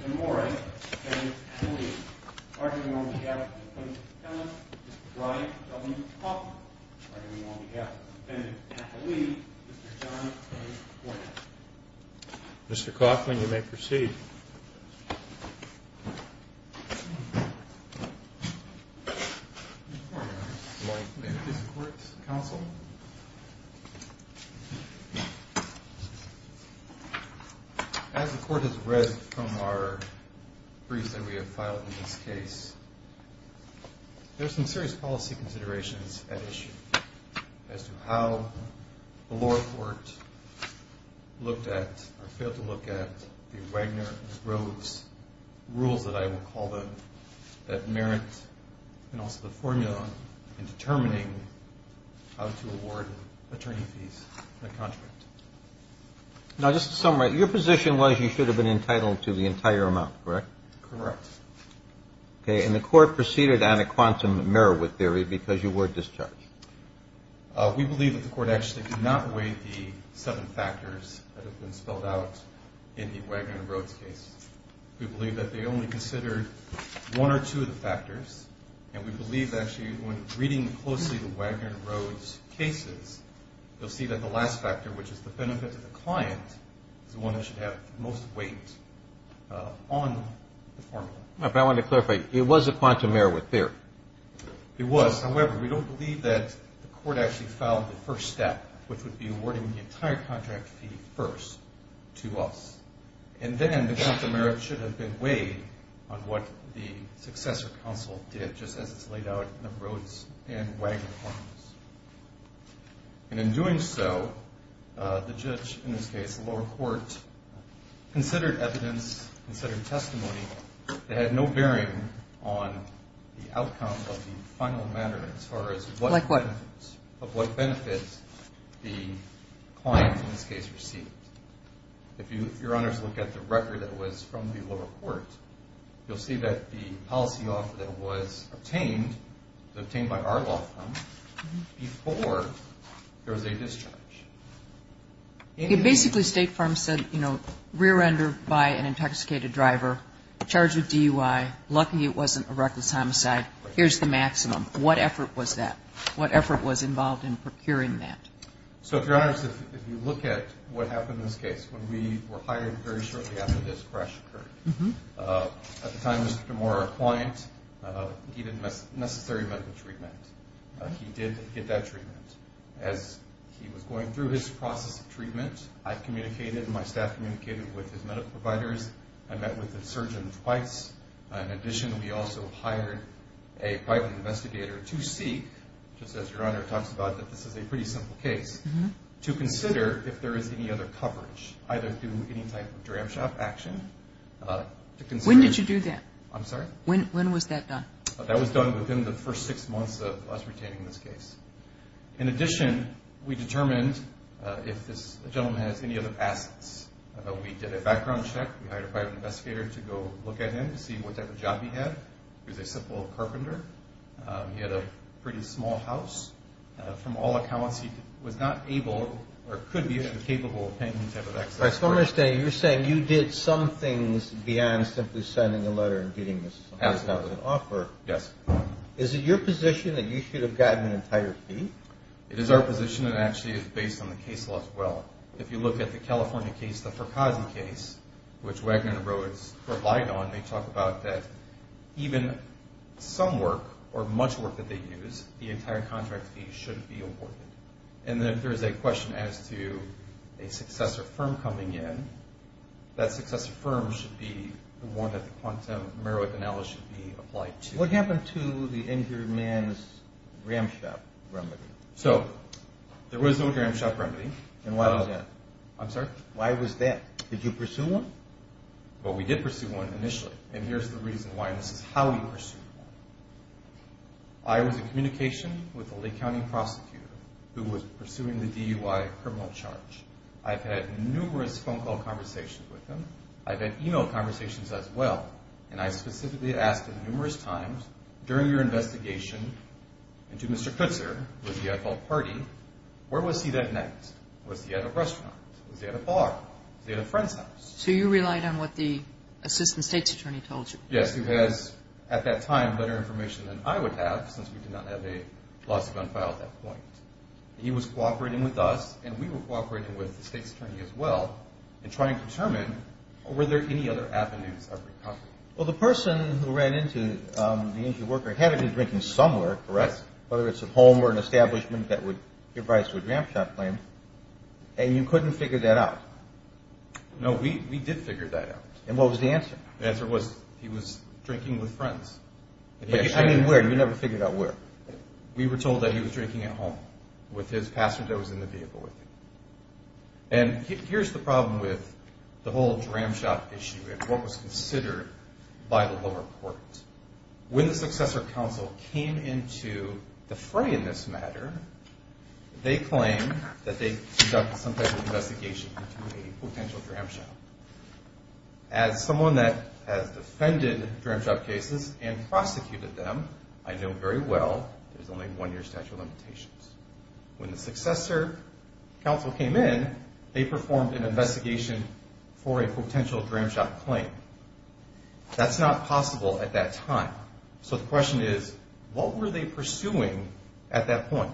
DeMora, Defendant, Appellee. Arguing on behalf of the Defendant's Appellant, Mr. Brian W. Coffman. Arguing on behalf of the Defendant's Appellee, Mr. John A. Gordon. Mr. Coffman, you may proceed. Good morning, Your Honor. Good morning. May I please have the Court's counsel? As the Court has read from our briefs that we have filed in this case, there are some serious policy considerations at issue as to how the Court failed to look at the Wagner-Rhodes rules that I will call them that merit and also the formula in determining how to award attorney fees in a contract. Now, just to summarize, your position was you should have been entitled to the entire amount, correct? Correct. Okay, and the Court proceeded on a quantum Meriweth theory because you were discharged. We believe that the Court actually did not weigh the seven factors that have been spelled out in the Wagner-Rhodes case. We believe that they only considered one or two of the factors, and we believe that actually when reading closely the Wagner-Rhodes cases, you'll see that the last factor, which is the benefit to the client, is the one that should have the most weight on the formula. If I wanted to clarify, it was a quantum Meriweth theory? It was. However, we don't believe that the Court actually filed the first step, which would be awarding the entire contract fee first to us. And then the quantum Meriweth should have been weighed on what the successor counsel did just as it's laid out in the Rhodes and Wagner forms. And in doing so, the judge in this case, the lower court, considered evidence, considered testimony, that had no bearing on the outcome of the final matter as far as what benefits the client in this case received. If your honors look at the record that was from the lower court, you'll see that the policy offer that was obtained, was obtained by our law firm before there was a discharge. It basically, State Farm said, you know, re-render, buy an intoxicated driver, charge with DUI, lucky it wasn't a reckless homicide, here's the maximum. What effort was that? What effort was involved in procuring that? So if your honors, if you look at what happened in this case, when we were hired very shortly after this crash occurred, at the time Mr. DeMora, our client, needed necessary medical treatment. He did get that treatment. As he was going through his process of treatment, I communicated and my staff communicated with his medical providers. I met with the surgeon twice. In addition, we also hired a private investigator to seek, just as your honor talks about that this is a pretty simple case, to consider if there is any other coverage, either through any type of dram shop action. When did you do that? I'm sorry? When was that done? That was done within the first six months of us retaining this case. In addition, we determined if this gentleman has any other assets. We did a background check. We hired a private investigator to go look at him to see what type of job he had. He was a simple carpenter. He had a pretty small house. From all accounts, he was not able or could be incapable of paying any type of excess work. All right. So I'm going to say you're saying you did some things beyond simply sending a letter and getting this offer. Yes. Is it your position that you should have gotten an entire fee? It is our position. It actually is based on the case law as well. If you look at the California case, the Fracasi case, which Wagner and Rhodes provide on, they talk about that even some work or much work that they use, the entire contract fee shouldn't be awarded. And then if there's a question as to a successor firm coming in, that successor firm should be the one that the quantum merit analysis should be applied to. What happened to the injured man's dram shop remedy? So there was no dram shop remedy. And why was that? I'm sorry? Why was that? Did you pursue one? Well, we did pursue one initially. And here's the reason why. And this is how we pursued one. I was in communication with a Lake County prosecutor who was pursuing the DUI criminal charge. I've had numerous phone call conversations with him. I've had e-mail conversations as well. And I specifically asked him numerous times during your investigation, and to Mr. Kutzer, who was the Eiffel party, where was he that night? Was he at a restaurant? Was he at a bar? Was he at a friend's house? So you relied on what the assistant state's attorney told you. Yes, who has, at that time, better information than I would have, since we did not have a lawsuit on file at that point. He was cooperating with us, and we were cooperating with the state's attorney as well, in trying to determine, were there any other avenues of recovery? Well, the person who ran into the injured worker had to be drinking somewhere, correct? Whether it's at home or an establishment that would give rise to a dram shop claim. And you couldn't figure that out? No, we did figure that out. And what was the answer? The answer was he was drinking with friends. I mean, where? You never figured out where. We were told that he was drinking at home with his passenger that was in the vehicle with him. And here's the problem with the whole dram shop issue and what was considered by the lower court. When the successor counsel came into the fray in this matter, they claimed that they conducted some type of investigation into a potential dram shop. As someone that has defended dram shop cases and prosecuted them, I know very well there's only one-year statute of limitations. When the successor counsel came in, they performed an investigation for a potential dram shop claim. That's not possible at that time. So the question is, what were they pursuing at that point?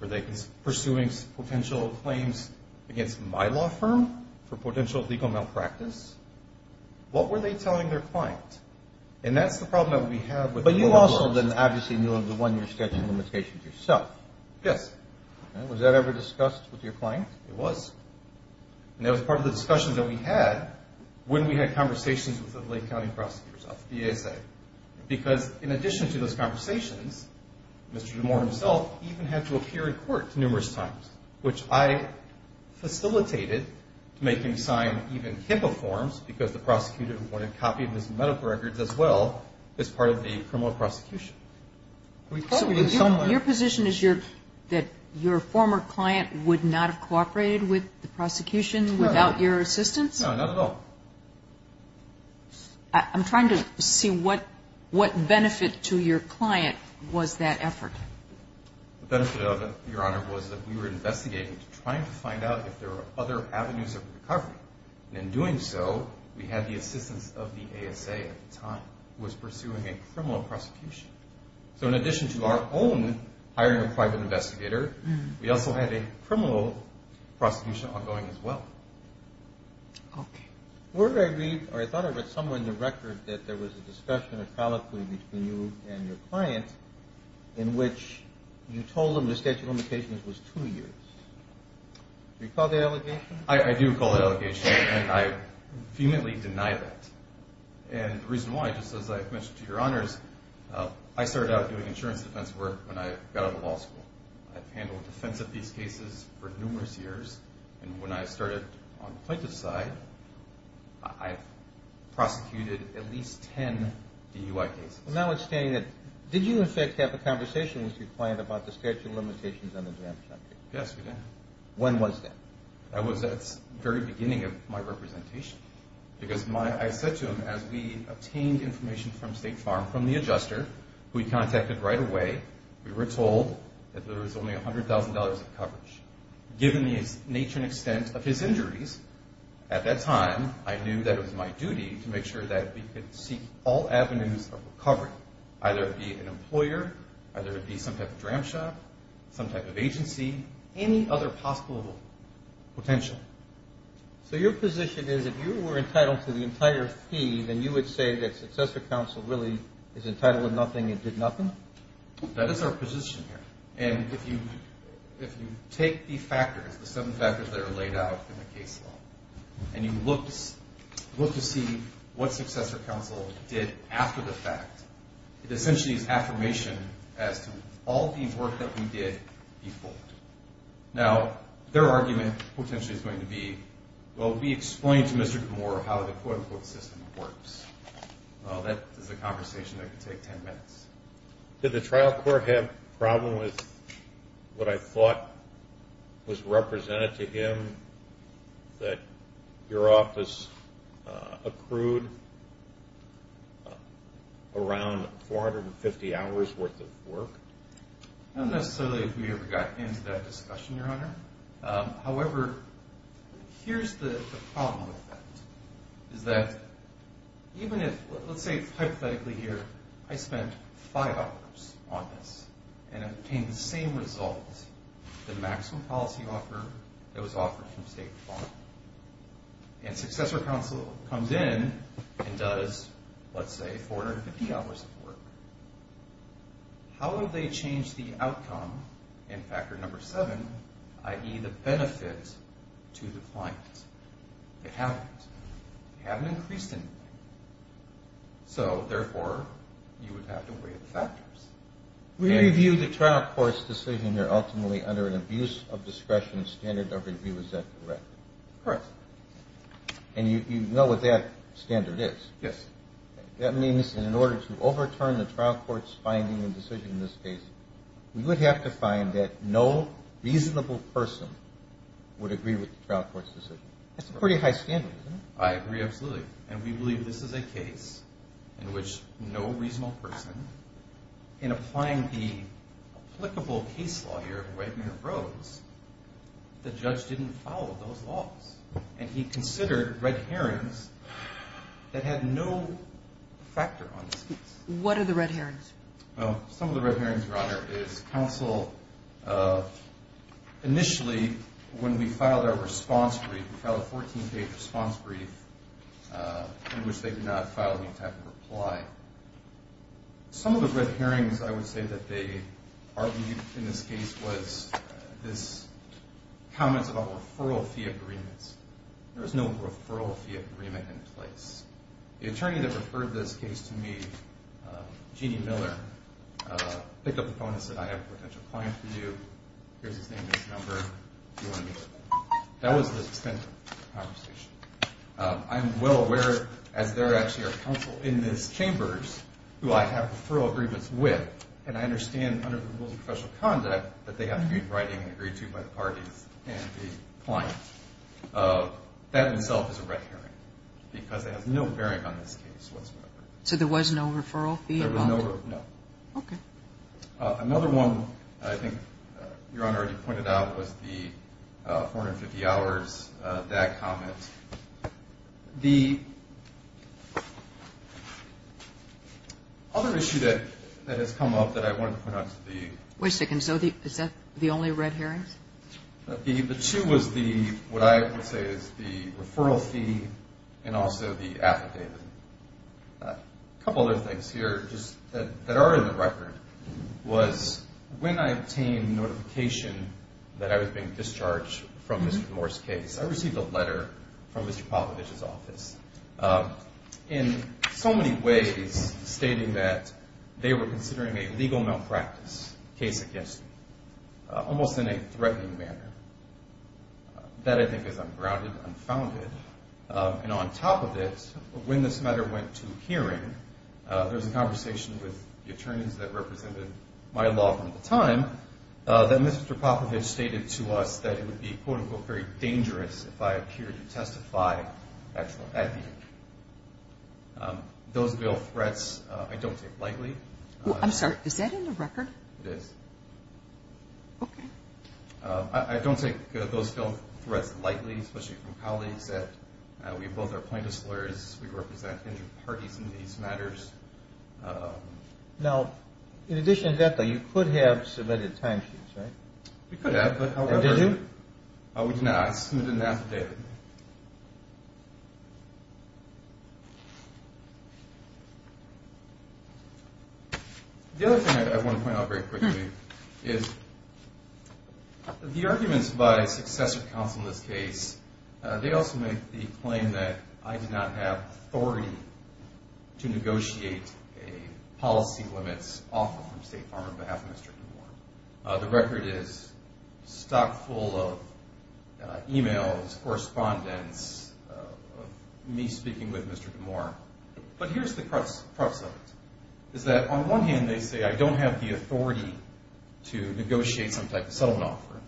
Were they pursuing potential claims against my law firm for potential legal malpractice? What were they telling their client? And that's the problem that we have with the lower courts. But you also then obviously knew of the one-year statute of limitations yourself. Yes. Was that ever discussed with your client? It was. And that was part of the discussion that we had when we had conversations with the Lake County prosecutors, because in addition to those conversations, Mr. DeMoor himself even had to appear in court numerous times, which I facilitated to make him sign even HIPAA forms because the prosecutor wanted a copy of his medical records as well as part of the criminal prosecution. So your position is that your former client would not have cooperated with the prosecution without your assistance? No, not at all. I'm trying to see what benefit to your client was that effort. The benefit of it, Your Honor, was that we were investigating, trying to find out if there were other avenues of recovery. And in doing so, we had the assistance of the ASA at the time, who was pursuing a criminal prosecution. So in addition to our own hiring a private investigator, we also had a criminal prosecution ongoing as well. Okay. Word I read, or I thought I read somewhere in the record, that there was a discussion, a colloquy between you and your client, in which you told them the statute of limitations was two years. Do you recall the allegation? I do recall the allegation, and I vehemently deny that. And the reason why, just as I've mentioned to Your Honors, I started out doing insurance defense work when I got out of law school. I've handled defense of these cases for numerous years. And when I started on the plaintiff's side, I've prosecuted at least 10 DUI cases. Now it's saying that, did you, in fact, have a conversation with your client about the statute of limitations on the drama subject? Yes, we did. When was that? That was at the very beginning of my representation. Because I said to him, as we obtained information from State Farm, from the adjuster, who he contacted right away, we were told that there was only $100,000 in coverage. Given the nature and extent of his injuries at that time, I knew that it was my duty to make sure that we could seek all avenues of recovery, either it be an employer, either it be some type of dram shop, some type of agency, any other possible potential. So your position is, if you were entitled to the entire fee, then you would say that successor counsel really is entitled to nothing and did nothing? That is our position here. And if you take the factors, the seven factors that are laid out in the case law, and you look to see what successor counsel did after the fact, it essentially is affirmation as to all the work that we did, default. Now, their argument potentially is going to be, well, we explained to Mr. Gamora how the quote-unquote system works. Well, that is a conversation that could take 10 minutes. Did the trial court have a problem with what I thought was represented to him, that your office accrued around 450 hours' worth of work? Not necessarily that we ever got into that discussion, Your Honor. However, here's the problem with that, is that even if, let's say hypothetically here, I spent five hours on this and obtained the same result, the maximum policy offer that was offered from state law, and successor counsel comes in and does, let's say, 450 hours of work, how would they change the outcome in factor number seven, i.e., the benefit to the client? They haven't. They haven't increased anything. So, therefore, you would have to weigh the factors. We review the trial court's decision here ultimately under an abuse of discretion standard of review. Is that correct? Correct. And you know what that standard is? Yes. That means that in order to overturn the trial court's finding and decision in this case, we would have to find that no reasonable person would agree with the trial court's decision. That's a pretty high standard, isn't it? I agree absolutely. And we believe this is a case in which no reasonable person, in applying the applicable case law here of Wagner-Rhodes, the judge didn't follow those laws. And he considered red herrings that had no factor on this case. What are the red herrings? Some of the red herrings, Your Honor, is counsel initially, when we filed our response brief, we filed a 14-page response brief in which they did not file any type of reply. Some of the red herrings I would say that they argued in this case was this comment about referral fee agreements. There was no referral fee agreement in place. The attorney that referred this case to me, Jeannie Miller, picked up the phone and said, I have a potential client for you. Here's his name and his number. Do you want to meet with him? That was the extent of the conversation. I'm well aware, as they're actually our counsel in these chambers, who I have referral agreements with, and I understand under the rules of professional conduct that they have to be in writing and agreed to by the parties and the client. That in itself is a red herring because it has no bearing on this case whatsoever. So there was no referral fee involved? There was no referral. No. Okay. Another one, I think, Your Honor, you pointed out, was the 450 hours, that comment. The other issue that has come up that I wanted to point out is the ---- Wait a second. Is that the only red herring? The two was the, what I would say is the referral fee and also the affidavit. A couple other things here that are in the record was when I obtained notification that I was being discharged from Mr. Moore's case, I received a letter from Mr. Popovich's office in so many ways stating that they were considering a legal malpractice case against me, almost in a threatening manner. That, I think, is ungrounded, unfounded. And on top of this, when this matter went to hearing, there was a conversation with the attorneys that represented my law firm at the time that Mr. Popovich stated to us that it would be, quote, unquote, very dangerous if I appeared to testify at the hearing. Those bill threats, I don't take lightly. I'm sorry. Is that in the record? It is. Okay. I don't take those bill threats lightly, especially from colleagues. We both are plaintiffs' lawyers. We represent injured parties in these matters. Now, in addition to that, though, you could have submitted timesheets, right? We could have. And did you? We did not. I submitted an affidavit. The other thing I want to point out very quickly is the arguments by successor counsel in this case, they also make the claim that I do not have authority to negotiate a policy limits offer from State Farm on behalf of Mr. Newborn. The record is stock full of e-mails, correspondence of me speaking with Mr. Newborn. But here's the crux of it, is that on one hand they say I don't have the authority to negotiate some type of settlement offer,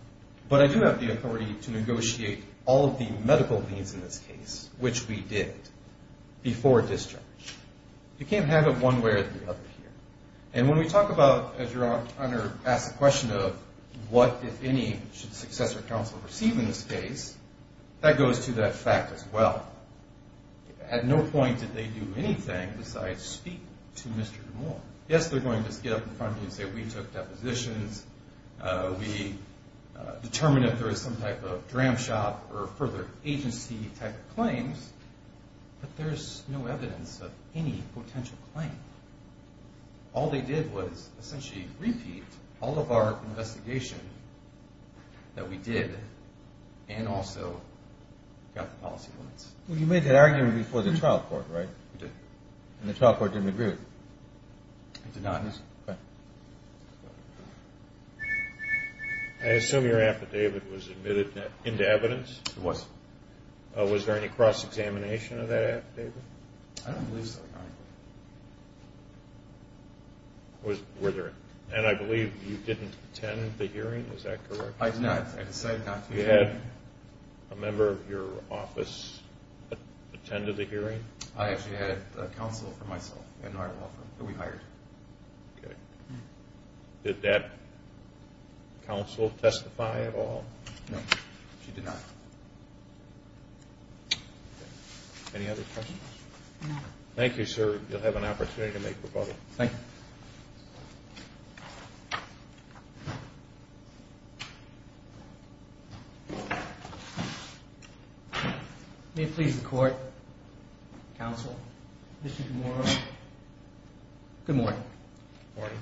but I do have the authority to negotiate all of the medical needs in this case, which we did, before discharge. You can't have it one way or the other here. And when we talk about, as your Honor asked the question of what, if any, should successor counsel receive in this case, that goes to that fact as well. At no point did they do anything besides speak to Mr. Newborn. Yes, they're going to get up in front of you and say we took depositions, we determined if there was some type of dram shop or further agency type of claims, but there's no evidence of any potential claim. All they did was essentially repeat all of our investigation that we did and also got the policy limits. Well, you made that argument before the trial court, right? We did. And the trial court didn't agree with it? It did not. Okay. I assume your affidavit was admitted into evidence? It was. Was there any cross-examination of that affidavit? I don't believe so, Your Honor. And I believe you didn't attend the hearing, is that correct? I did not. I decided not to. You had a member of your office attend the hearing? I actually had a counsel for myself in our law firm that we hired. Okay. Did that counsel testify at all? No, she did not. Okay. Any other questions? No. Thank you, sir. You'll have an opportunity to make rebuttal. Thank you. May it please the Court, Counsel, Mr. DeMoro, good morning. Good morning.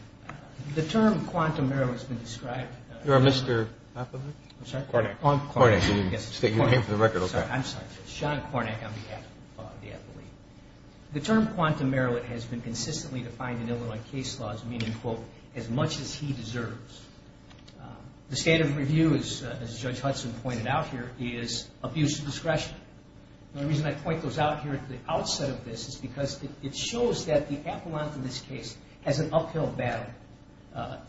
The term quantum error has been described. You're a Mr. Appelbeck? I'm sorry? You came for the record, okay. I'm sorry. Sean Kornack on behalf of the appellee. The term quantum error has been consistently defined in Illinois case laws, meaning, quote, as much as he deserves. The state of review, as Judge Hudson pointed out here, is abuse of discretion. The reason I point those out here at the outset of this is because it shows that the appellant in this case has an uphill battle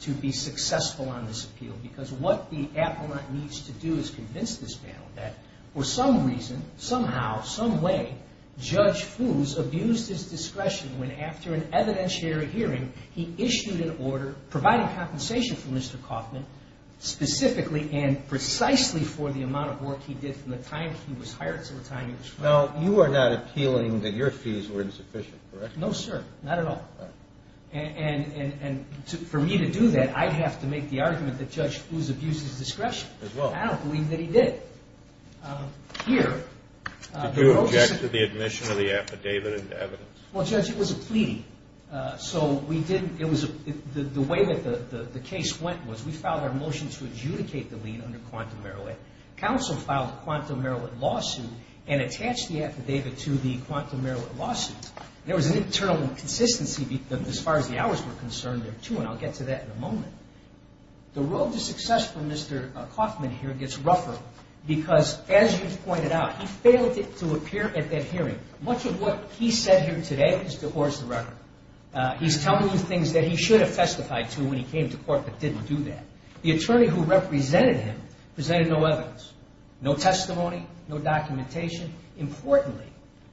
to be successful on this appeal because what the appellant needs to do is convince this panel that for some reason, somehow, some way, Judge Foos abused his discretion when, after an evidentiary hearing, he issued an order providing compensation for Mr. Kauffman, specifically and precisely for the amount of work he did from the time he was hired to the time he was fired. Now, you are not appealing that your fees were insufficient, correct? No, sir. Not at all. And for me to do that, I'd have to make the argument that Judge Foos abused his discretion. As well. I don't believe that he did. Here. Did you object to the admission of the affidavit into evidence? Well, Judge, it was a plea. So we didn't – it was – the way that the case went was we filed our motion to adjudicate the lien under quantum error. Counsel filed a quantum error lawsuit and attached the affidavit to the quantum error lawsuit. There was an internal inconsistency as far as the hours were concerned, too, and I'll get to that in a moment. The road to success for Mr. Kauffman here gets rougher because, as you pointed out, he failed to appear at that hearing. Much of what he said here today is to horse the record. He's telling you things that he should have testified to when he came to court but didn't do that. The attorney who represented him presented no evidence, no testimony, no documentation. Importantly,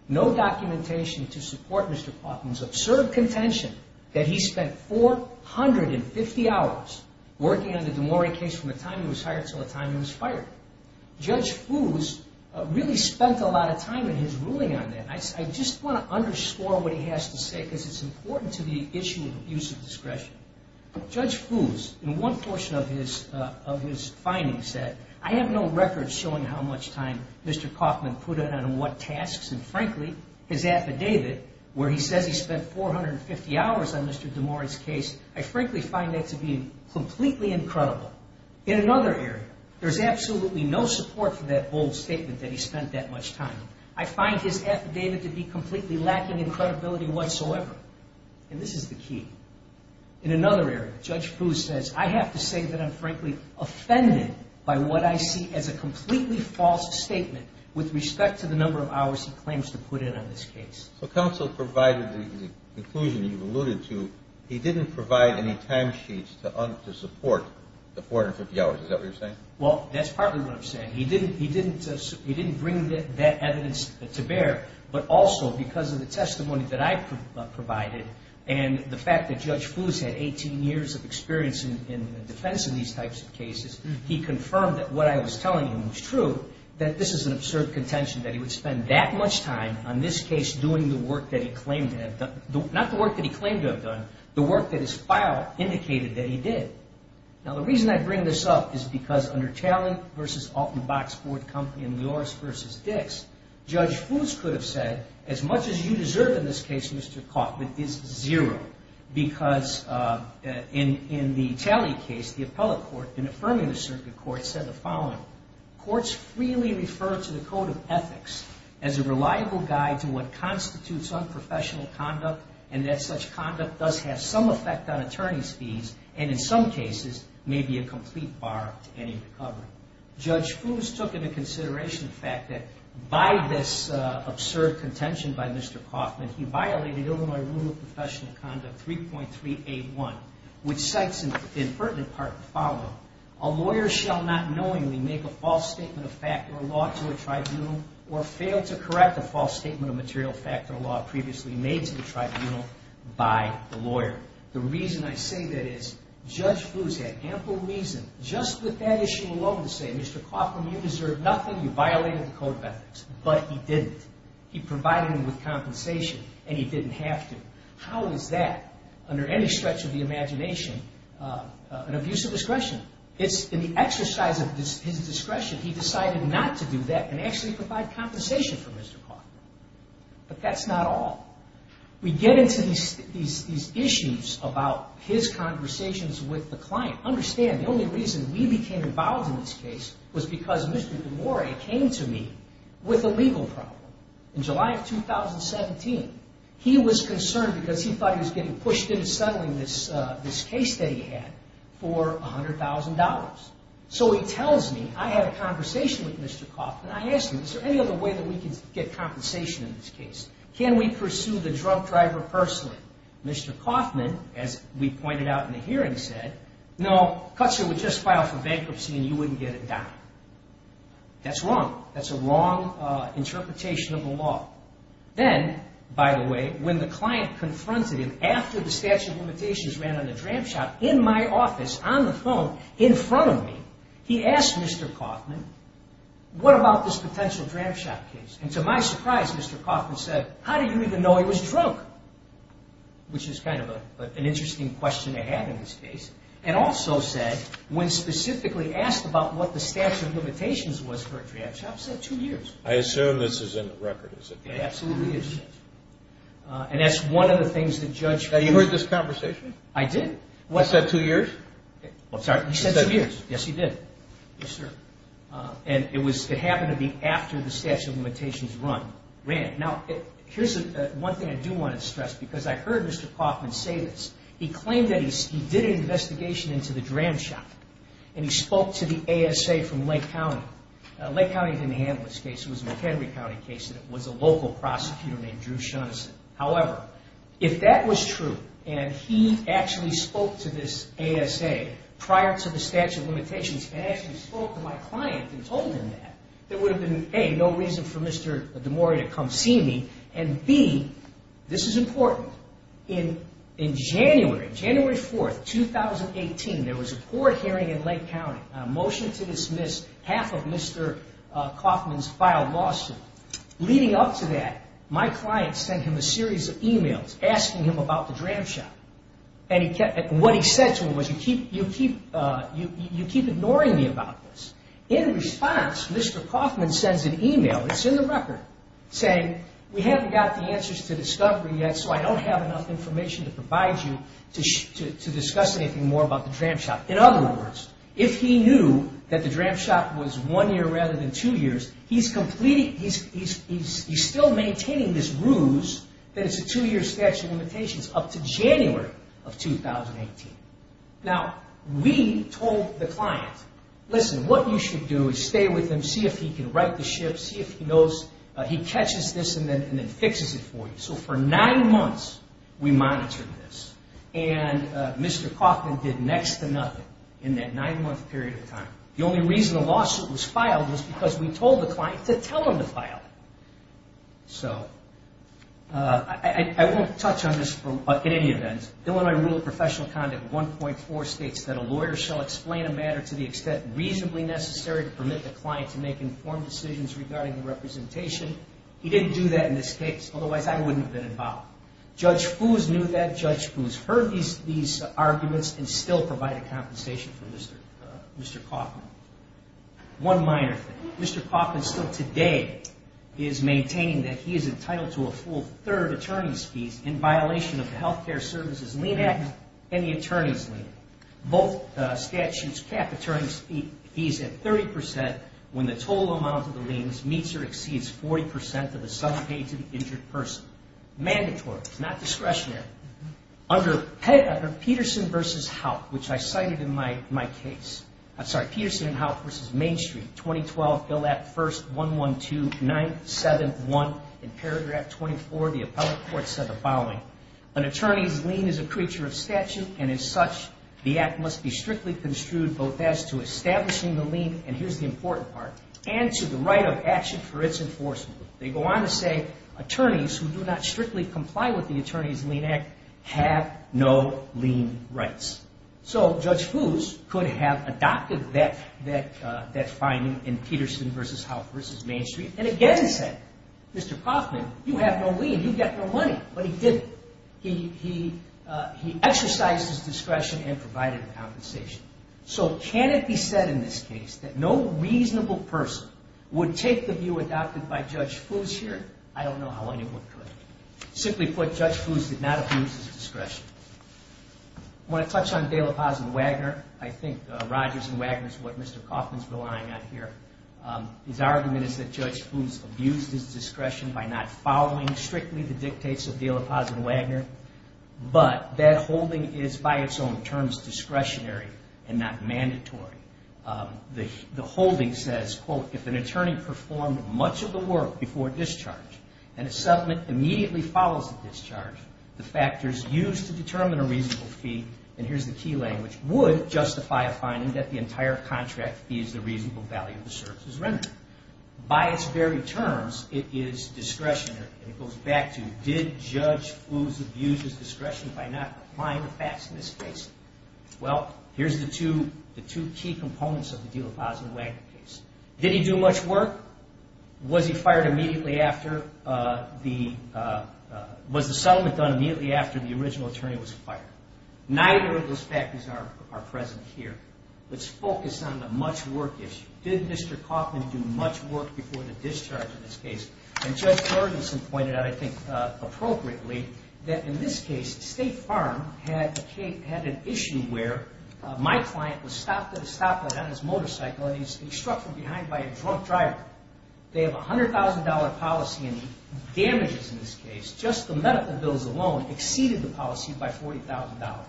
no documentation to support Mr. Kauffman's absurd contention that he spent 450 hours working on the DeMori case from the time he was hired till the time he was fired. Judge Foos really spent a lot of time in his ruling on that. I just want to underscore what he has to say because it's important to the issue of use of discretion. Judge Foos, in one portion of his findings, said, I have no record showing how much time Mr. Kauffman put in on what tasks and, frankly, his affidavit where he says he spent 450 hours on Mr. DeMori's case, I frankly find that to be completely incredible. In another area, there's absolutely no support for that bold statement that he spent that much time. I find his affidavit to be completely lacking in credibility whatsoever, and this is the key. In another area, Judge Foos says, I have to say that I'm, frankly, offended by what I see as a completely false statement with respect to the number of hours he claims to put in on this case. So counsel provided the conclusion you've alluded to. He didn't provide any timesheets to support the 450 hours. Is that what you're saying? Well, that's partly what I'm saying. He didn't bring that evidence to bear, but also because of the testimony that I provided and the fact that Judge DeMori has years of experience in the defense of these types of cases, he confirmed that what I was telling him was true, that this is an absurd contention that he would spend that much time on this case doing the work that he claimed to have done. Not the work that he claimed to have done, the work that his file indicated that he did. Now, the reason I bring this up is because under Talent v. Alton Box Board Company and Lloris v. Dix, Judge Foos could have said, as much as you deserve in this case, Mr. Kaufman, is zero. Because in the Talley case, the appellate court, in affirming the circuit court, said the following, courts freely refer to the code of ethics as a reliable guide to what constitutes unprofessional conduct and that such conduct does have some effect on attorney's fees and, in some cases, may be a complete bar to any recovery. Judge Foos took into consideration the fact that by this absurd contention by Mr. Kaufman, he violated Illinois Rule of Professional Conduct 3.381, which cites in pertinent part the following, a lawyer shall not knowingly make a false statement of fact or law to a tribunal or fail to correct a false statement of material fact or law previously made to the tribunal by the lawyer. The reason I say that is Judge Foos had ample reason just with that issue alone to say, Mr. Kaufman, you deserve nothing, you violated the code of ethics. But he didn't. He provided him with compensation and he didn't have to. How is that, under any stretch of the imagination, an abuse of discretion? It's in the exercise of his discretion he decided not to do that and actually provide compensation for Mr. Kaufman. But that's not all. We get into these issues about his conversations with the client. Understand, the only reason we became involved in this case was because Mr. DeMoria came to me with a legal problem. In July of 2017, he was concerned because he thought he was getting pushed into settling this case that he had for $100,000. So he tells me, I had a conversation with Mr. Kaufman. I asked him, is there any other way that we can get compensation in this case? Can we pursue the drunk driver personally? Mr. Kaufman, as we pointed out in the hearing, said, no, Cuts here would just file for bankruptcy and you wouldn't get it back. That's wrong. That's a wrong interpretation of the law. Then, by the way, when the client confronted him after the statute of limitations ran on the dram shop, in my office, on the phone, in front of me, he asked Mr. Kaufman, what about this potential dram shop case? And to my surprise, Mr. Kaufman said, how did you even know he was drunk? Which is kind of an interesting question to have in this case. And also said, when specifically asked about what the statute of limitations was for a dram shop, said two years. I assume this is in the record, is it not? It absolutely is. And that's one of the things that Judge ran. Now, you heard this conversation? I did. He said two years? I'm sorry? He said two years. Yes, he did. Yes, sir. And it happened to be after the statute of limitations ran. Now, here's one thing I do want to stress because I heard Mr. Kaufman say this. He claimed that he did an investigation into the dram shop. And he spoke to the ASA from Lake County. Lake County didn't handle this case. It was a McHenry County case. And it was a local prosecutor named Drew Shaughnessy. However, if that was true and he actually spoke to this ASA prior to the statute of limitations and actually spoke to my client and told him that, there would have been, A, no reason for Mr. DeMoria to come see me. And, B, this is important. In January, January 4th, 2018, there was a court hearing in Lake County, a motion to dismiss half of Mr. Kaufman's filed lawsuit. Leading up to that, my client sent him a series of e-mails asking him about the dram shop. And what he said to him was, You keep ignoring me about this. In response, Mr. Kaufman sends an e-mail, it's in the record, saying, We haven't got the answers to discovery yet so I don't have enough information to provide you to discuss anything more about the dram shop. In other words, if he knew that the dram shop was one year rather than two years, he's still maintaining this ruse that it's a two-year statute of limitations up to January of 2018. Now, we told the client, Listen, what you should do is stay with him, see if he can right the ship, see if he knows, he catches this and then fixes it for you. So for nine months, we monitored this. And Mr. Kaufman did next to nothing in that nine-month period of time. The only reason the lawsuit was filed was because we told the client to tell him to file it. So I won't touch on this at any event. Illinois Rule of Professional Conduct 1.4 states that a lawyer shall explain a matter to the extent reasonably necessary to permit the client to make informed decisions regarding the representation. He didn't do that in this case. Otherwise, I wouldn't have been involved. Judge Foos knew that. Judge Foos heard these arguments and still provided compensation for Mr. Kaufman. One minor thing. Mr. Kaufman still today is maintaining that he is entitled to a full third attorney's fees in violation of the Health Care Services Lien Act and the Attorney's Lien. Both statutes cap attorney's fees at 30% when the total amount of the liens meets or exceeds 40% of the sum paid to the injured person. Mandatory. It's not discretionary. Under Peterson v. Houtt, which I cited in my case, I'm sorry, Peterson v. Houtt v. Main Street, 2012, Bill Act I, 112, 9th, 7th, 1. In paragraph 24, the appellate court said the following. An attorney's lien is a creature of statute, and as such, the act must be strictly construed both as to establishing the lien, and here's the important part, and to the right of action for its enforcement. They go on to say attorneys who do not strictly comply with the Attorney's Lien Act have no lien rights. So Judge Foos could have adopted that finding in Peterson v. Houtt v. Main Street and again said, Mr. Kaufman, you have no lien. You get no money. But he didn't. He exercised his discretion and provided a compensation. So can it be said in this case that no reasonable person would take the view adopted by Judge Foos here? I don't know how anyone could. Simply put, Judge Foos did not abuse his discretion. I want to touch on De La Paz v. Wagner. I think Rogers v. Wagner is what Mr. Kaufman is relying on here. His argument is that Judge Foos abused his discretion by not following strictly the dictates of De La Paz v. Wagner, but that holding is by its own terms discretionary and not mandatory. The holding says, quote, if an attorney performed much of the work before discharge and a settlement immediately follows the discharge, the factors used to determine a reasonable fee, and here's the key language, would justify a finding that the entire contract fees the reasonable value of the services rendered. By its very terms, it is discretionary. It goes back to did Judge Foos abuse his discretion by not applying the facts in this case? Well, here's the two key components of the De La Paz v. Wagner case. Did he do much work? Was the settlement done immediately after the original attorney was fired? Neither of those factors are present here. Let's focus on the much work issue. Did Mr. Kaufman do much work before the discharge in this case? And Judge Ferguson pointed out, I think appropriately, that in this case State Farm had an issue where my client was stopped at a stoplight on his motorcycle, and he was struck from behind by a drunk driver. They have a $100,000 policy, and the damages in this case, just the medical bills alone, exceeded the policy by $40,000.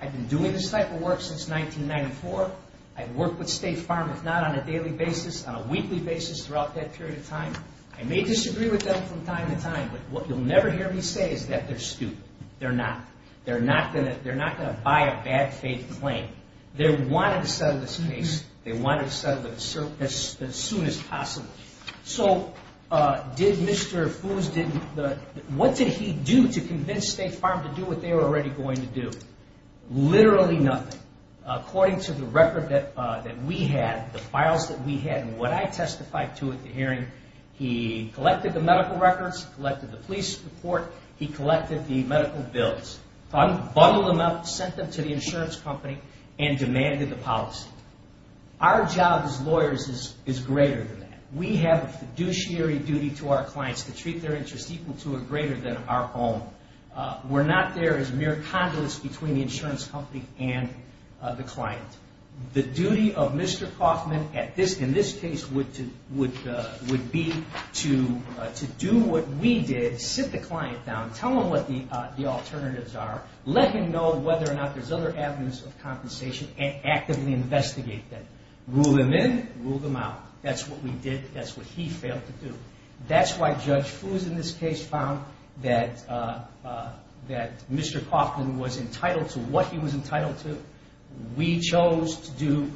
I've been doing this type of work since 1994. I've worked with State Farm, if not on a daily basis, on a weekly basis throughout that period of time. I may disagree with them from time to time, but what you'll never hear me say is that they're stupid. They're not. They're not going to buy a bad-faith claim. They wanted to settle this case. They wanted to settle it as soon as possible. So what did he do to convince State Farm to do what they were already going to do? Literally nothing. According to the record that we had, the files that we had, and what I testified to at the hearing, he collected the medical records, collected the police report, he collected the medical bills, bundled them up, sent them to the insurance company, and demanded the policy. Our job as lawyers is greater than that. We have a fiduciary duty to our clients to treat their interest equal to or greater than our own. We're not there as mere conduits between the insurance company and the client. The duty of Mr. Kaufman in this case would be to do what we did, sit the client down, tell him what the alternatives are, let him know whether or not there's other avenues of compensation, and actively investigate them. Rule them in, rule them out. That's what we did. That's what he failed to do. That's why Judge Foos in this case found that Mr. Kaufman was entitled to what he was entitled to. We chose to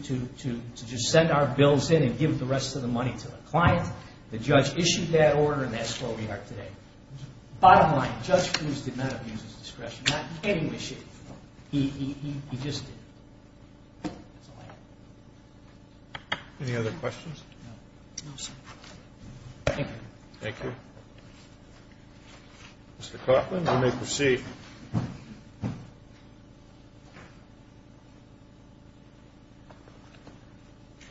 just send our bills in and give the rest of the money to the client. The judge issued that order, and that's where we are today. Bottom line, Judge Foos did not abuse his discretion. Not in any way, shape, or form. He just did. That's all I have. Any other questions? No, sir. Thank you. Thank you. Mr. Kaufman, you may proceed.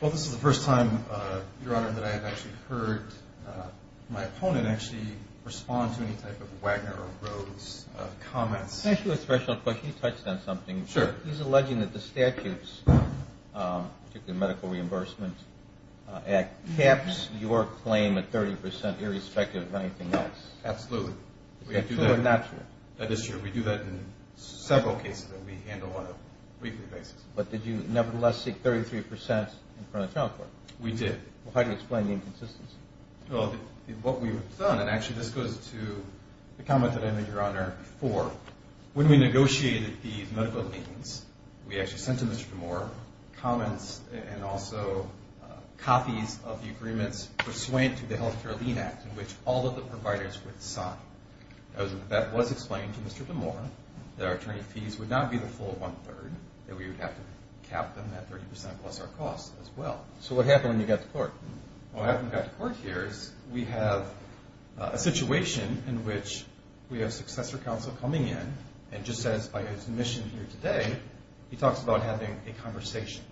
Well, this is the first time, Your Honor, that I have actually heard my opponent actually respond to any type of Wagner or Rhodes comments. Can I ask you a special question? You touched on something. Sure. He's alleging that the statutes, particularly the Medical Reimbursement Act, caps your claim at 30% irrespective of anything else. Absolutely. Is that true or not true? That is true. We do that in several cases, and we handle one on a weekly basis. But did you nevertheless seek 33% in front of the trial court? We did. Well, how do you explain the inconsistency? When we negotiated these medical liens, we actually sent to Mr. DeMoor comments and also copies of the agreements pursuant to the Health Care Lien Act, which all of the providers would sign. That was explained to Mr. DeMoor that our attorney fees would not be the full one-third, that we would have to cap them at 30% plus our costs as well. So what happened when you got to court? Well, what happened when we got to court here is we have a situation in which we have successor counsel coming in and just as by his admission here today, he talks about having a conversation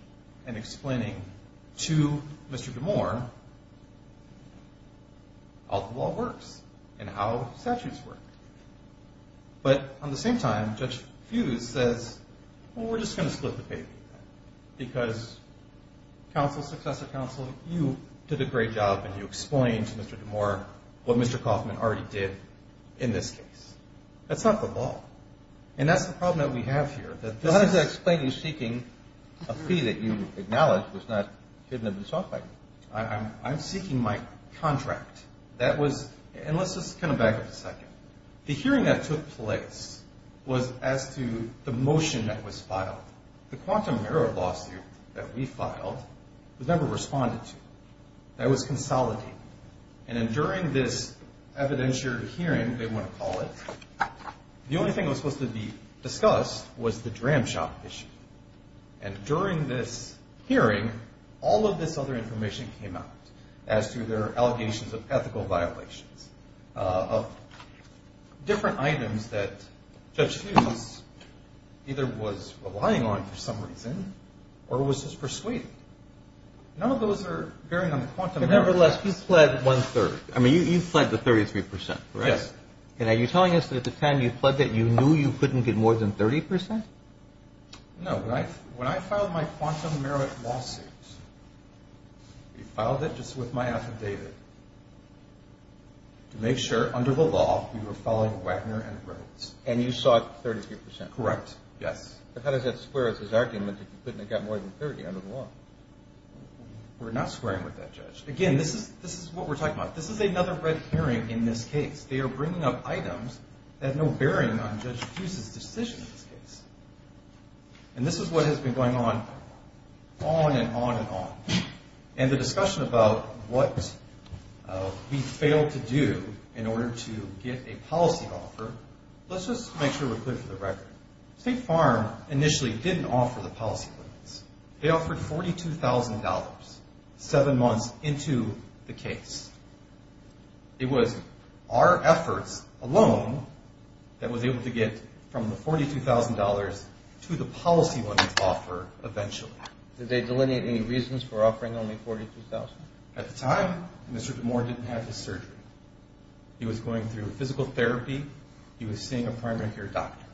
and explaining to Mr. DeMoor how the law works and how statutes work. But at the same time, Judge Fuse says, well, we're just going to split the paper because counsel, successor counsel, you did a great job and you explained to Mr. DeMoor what Mr. Kauffman already did in this case. That's not the law. And that's the problem that we have here. How does that explain you seeking a fee that you acknowledge was not hidden in the software? I'm seeking my contract. And let's just kind of back up a second. The hearing that took place was as to the motion that was filed. The quantum error lawsuit that we filed was never responded to. That was consolidated. And then during this evidentiary hearing, they want to call it, the only thing that was supposed to be discussed was the Dram Shop issue. And during this hearing, all of this other information came out as to their allegations of ethical violations of different items that Judge Fuse either was relying on for some reason or was just persuaded. None of those are bearing on the quantum error. Nevertheless, you pled one-third. I mean, you pled the 33%, correct? Yes. And are you telling us that at the time you pled that you knew you couldn't get more than 30%? No. When I filed my quantum error lawsuit, we filed it just with my affidavit to make sure, under the law, we were following Wagner and Rhodes. And you sought 33%? Correct. Yes. But how does that square with his argument that you couldn't have gotten more than 30 under the law? We're not squaring with that, Judge. Again, this is what we're talking about. This is another red herring in this case. They are bringing up items that have no bearing on Judge Fuse's decision in this case. And this is what has been going on, on and on and on. And the discussion about what we failed to do in order to get a policy offer, let's just make sure we're clear for the record. State Farm initially didn't offer the policy permits. They offered $42,000 seven months into the case. It was our efforts alone that was able to get from the $42,000 to the policy money offer eventually. Did they delineate any reasons for offering only $42,000? At the time, Mr. DeMoore didn't have his surgery. He was going through physical therapy. He was seeing a primary care doctor.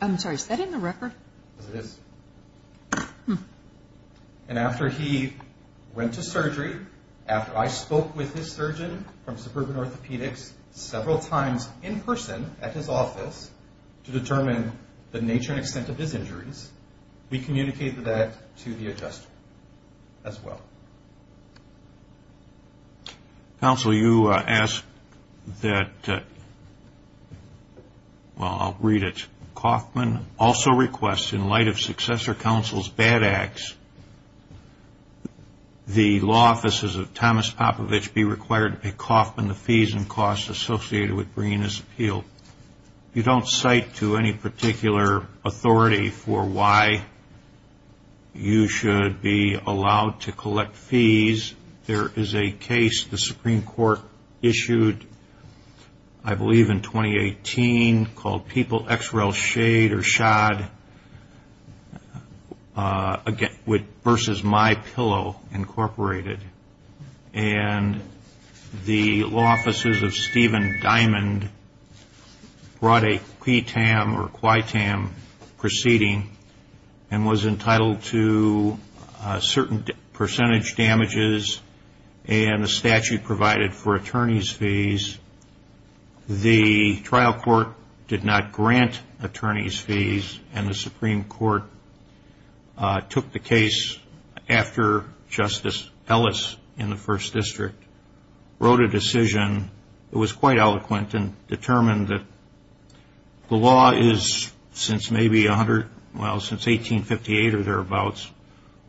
I'm sorry, is that in the record? Yes, it is. And after he went to surgery, after I spoke with his surgeon from Suburban Orthopedics several times in person at his office to determine the nature and extent of his injuries, we communicated that to the adjuster as well. Counsel, you asked that, well, I'll read it. Mr. Kaufman also requests, in light of successor counsel's bad acts, the law offices of Thomas Popovich be required to pay Kaufman the fees and costs associated with bringing this appeal. You don't cite to any particular authority for why you should be allowed to collect fees. There is a case the Supreme Court issued, I believe in 2018, called People, X-Ray, Shade or Shod versus My Pillow, Incorporated. And the law offices of Steven Diamond brought a PTAM or QITAM proceeding and was entitled to a certain percentage damages and a statute provided for attorney's fees. The trial court did not grant attorney's fees, and the Supreme Court took the case after Justice Ellis in the First District wrote a decision that was quite eloquent and determined that the law is, since maybe 1858 or thereabouts,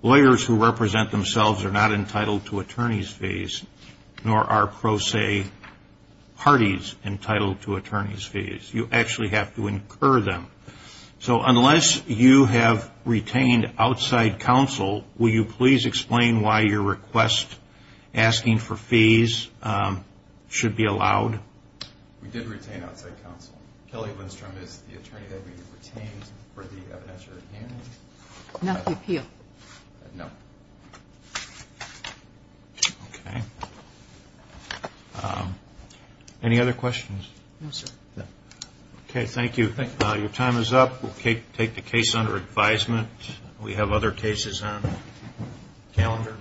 lawyers who represent themselves are not entitled to attorney's fees, nor are pro se parties entitled to attorney's fees. You actually have to incur them. So unless you have retained outside counsel, will you please explain why your request asking for fees should be allowed? We did retain outside counsel. Kelly Lindstrom is the attorney that we retained for the evidentiary hearing. Not the appeal? No. Okay. Any other questions? No, sir. Okay. Thank you. Your time is up. We'll take the case under advisement. We have other cases on calendar.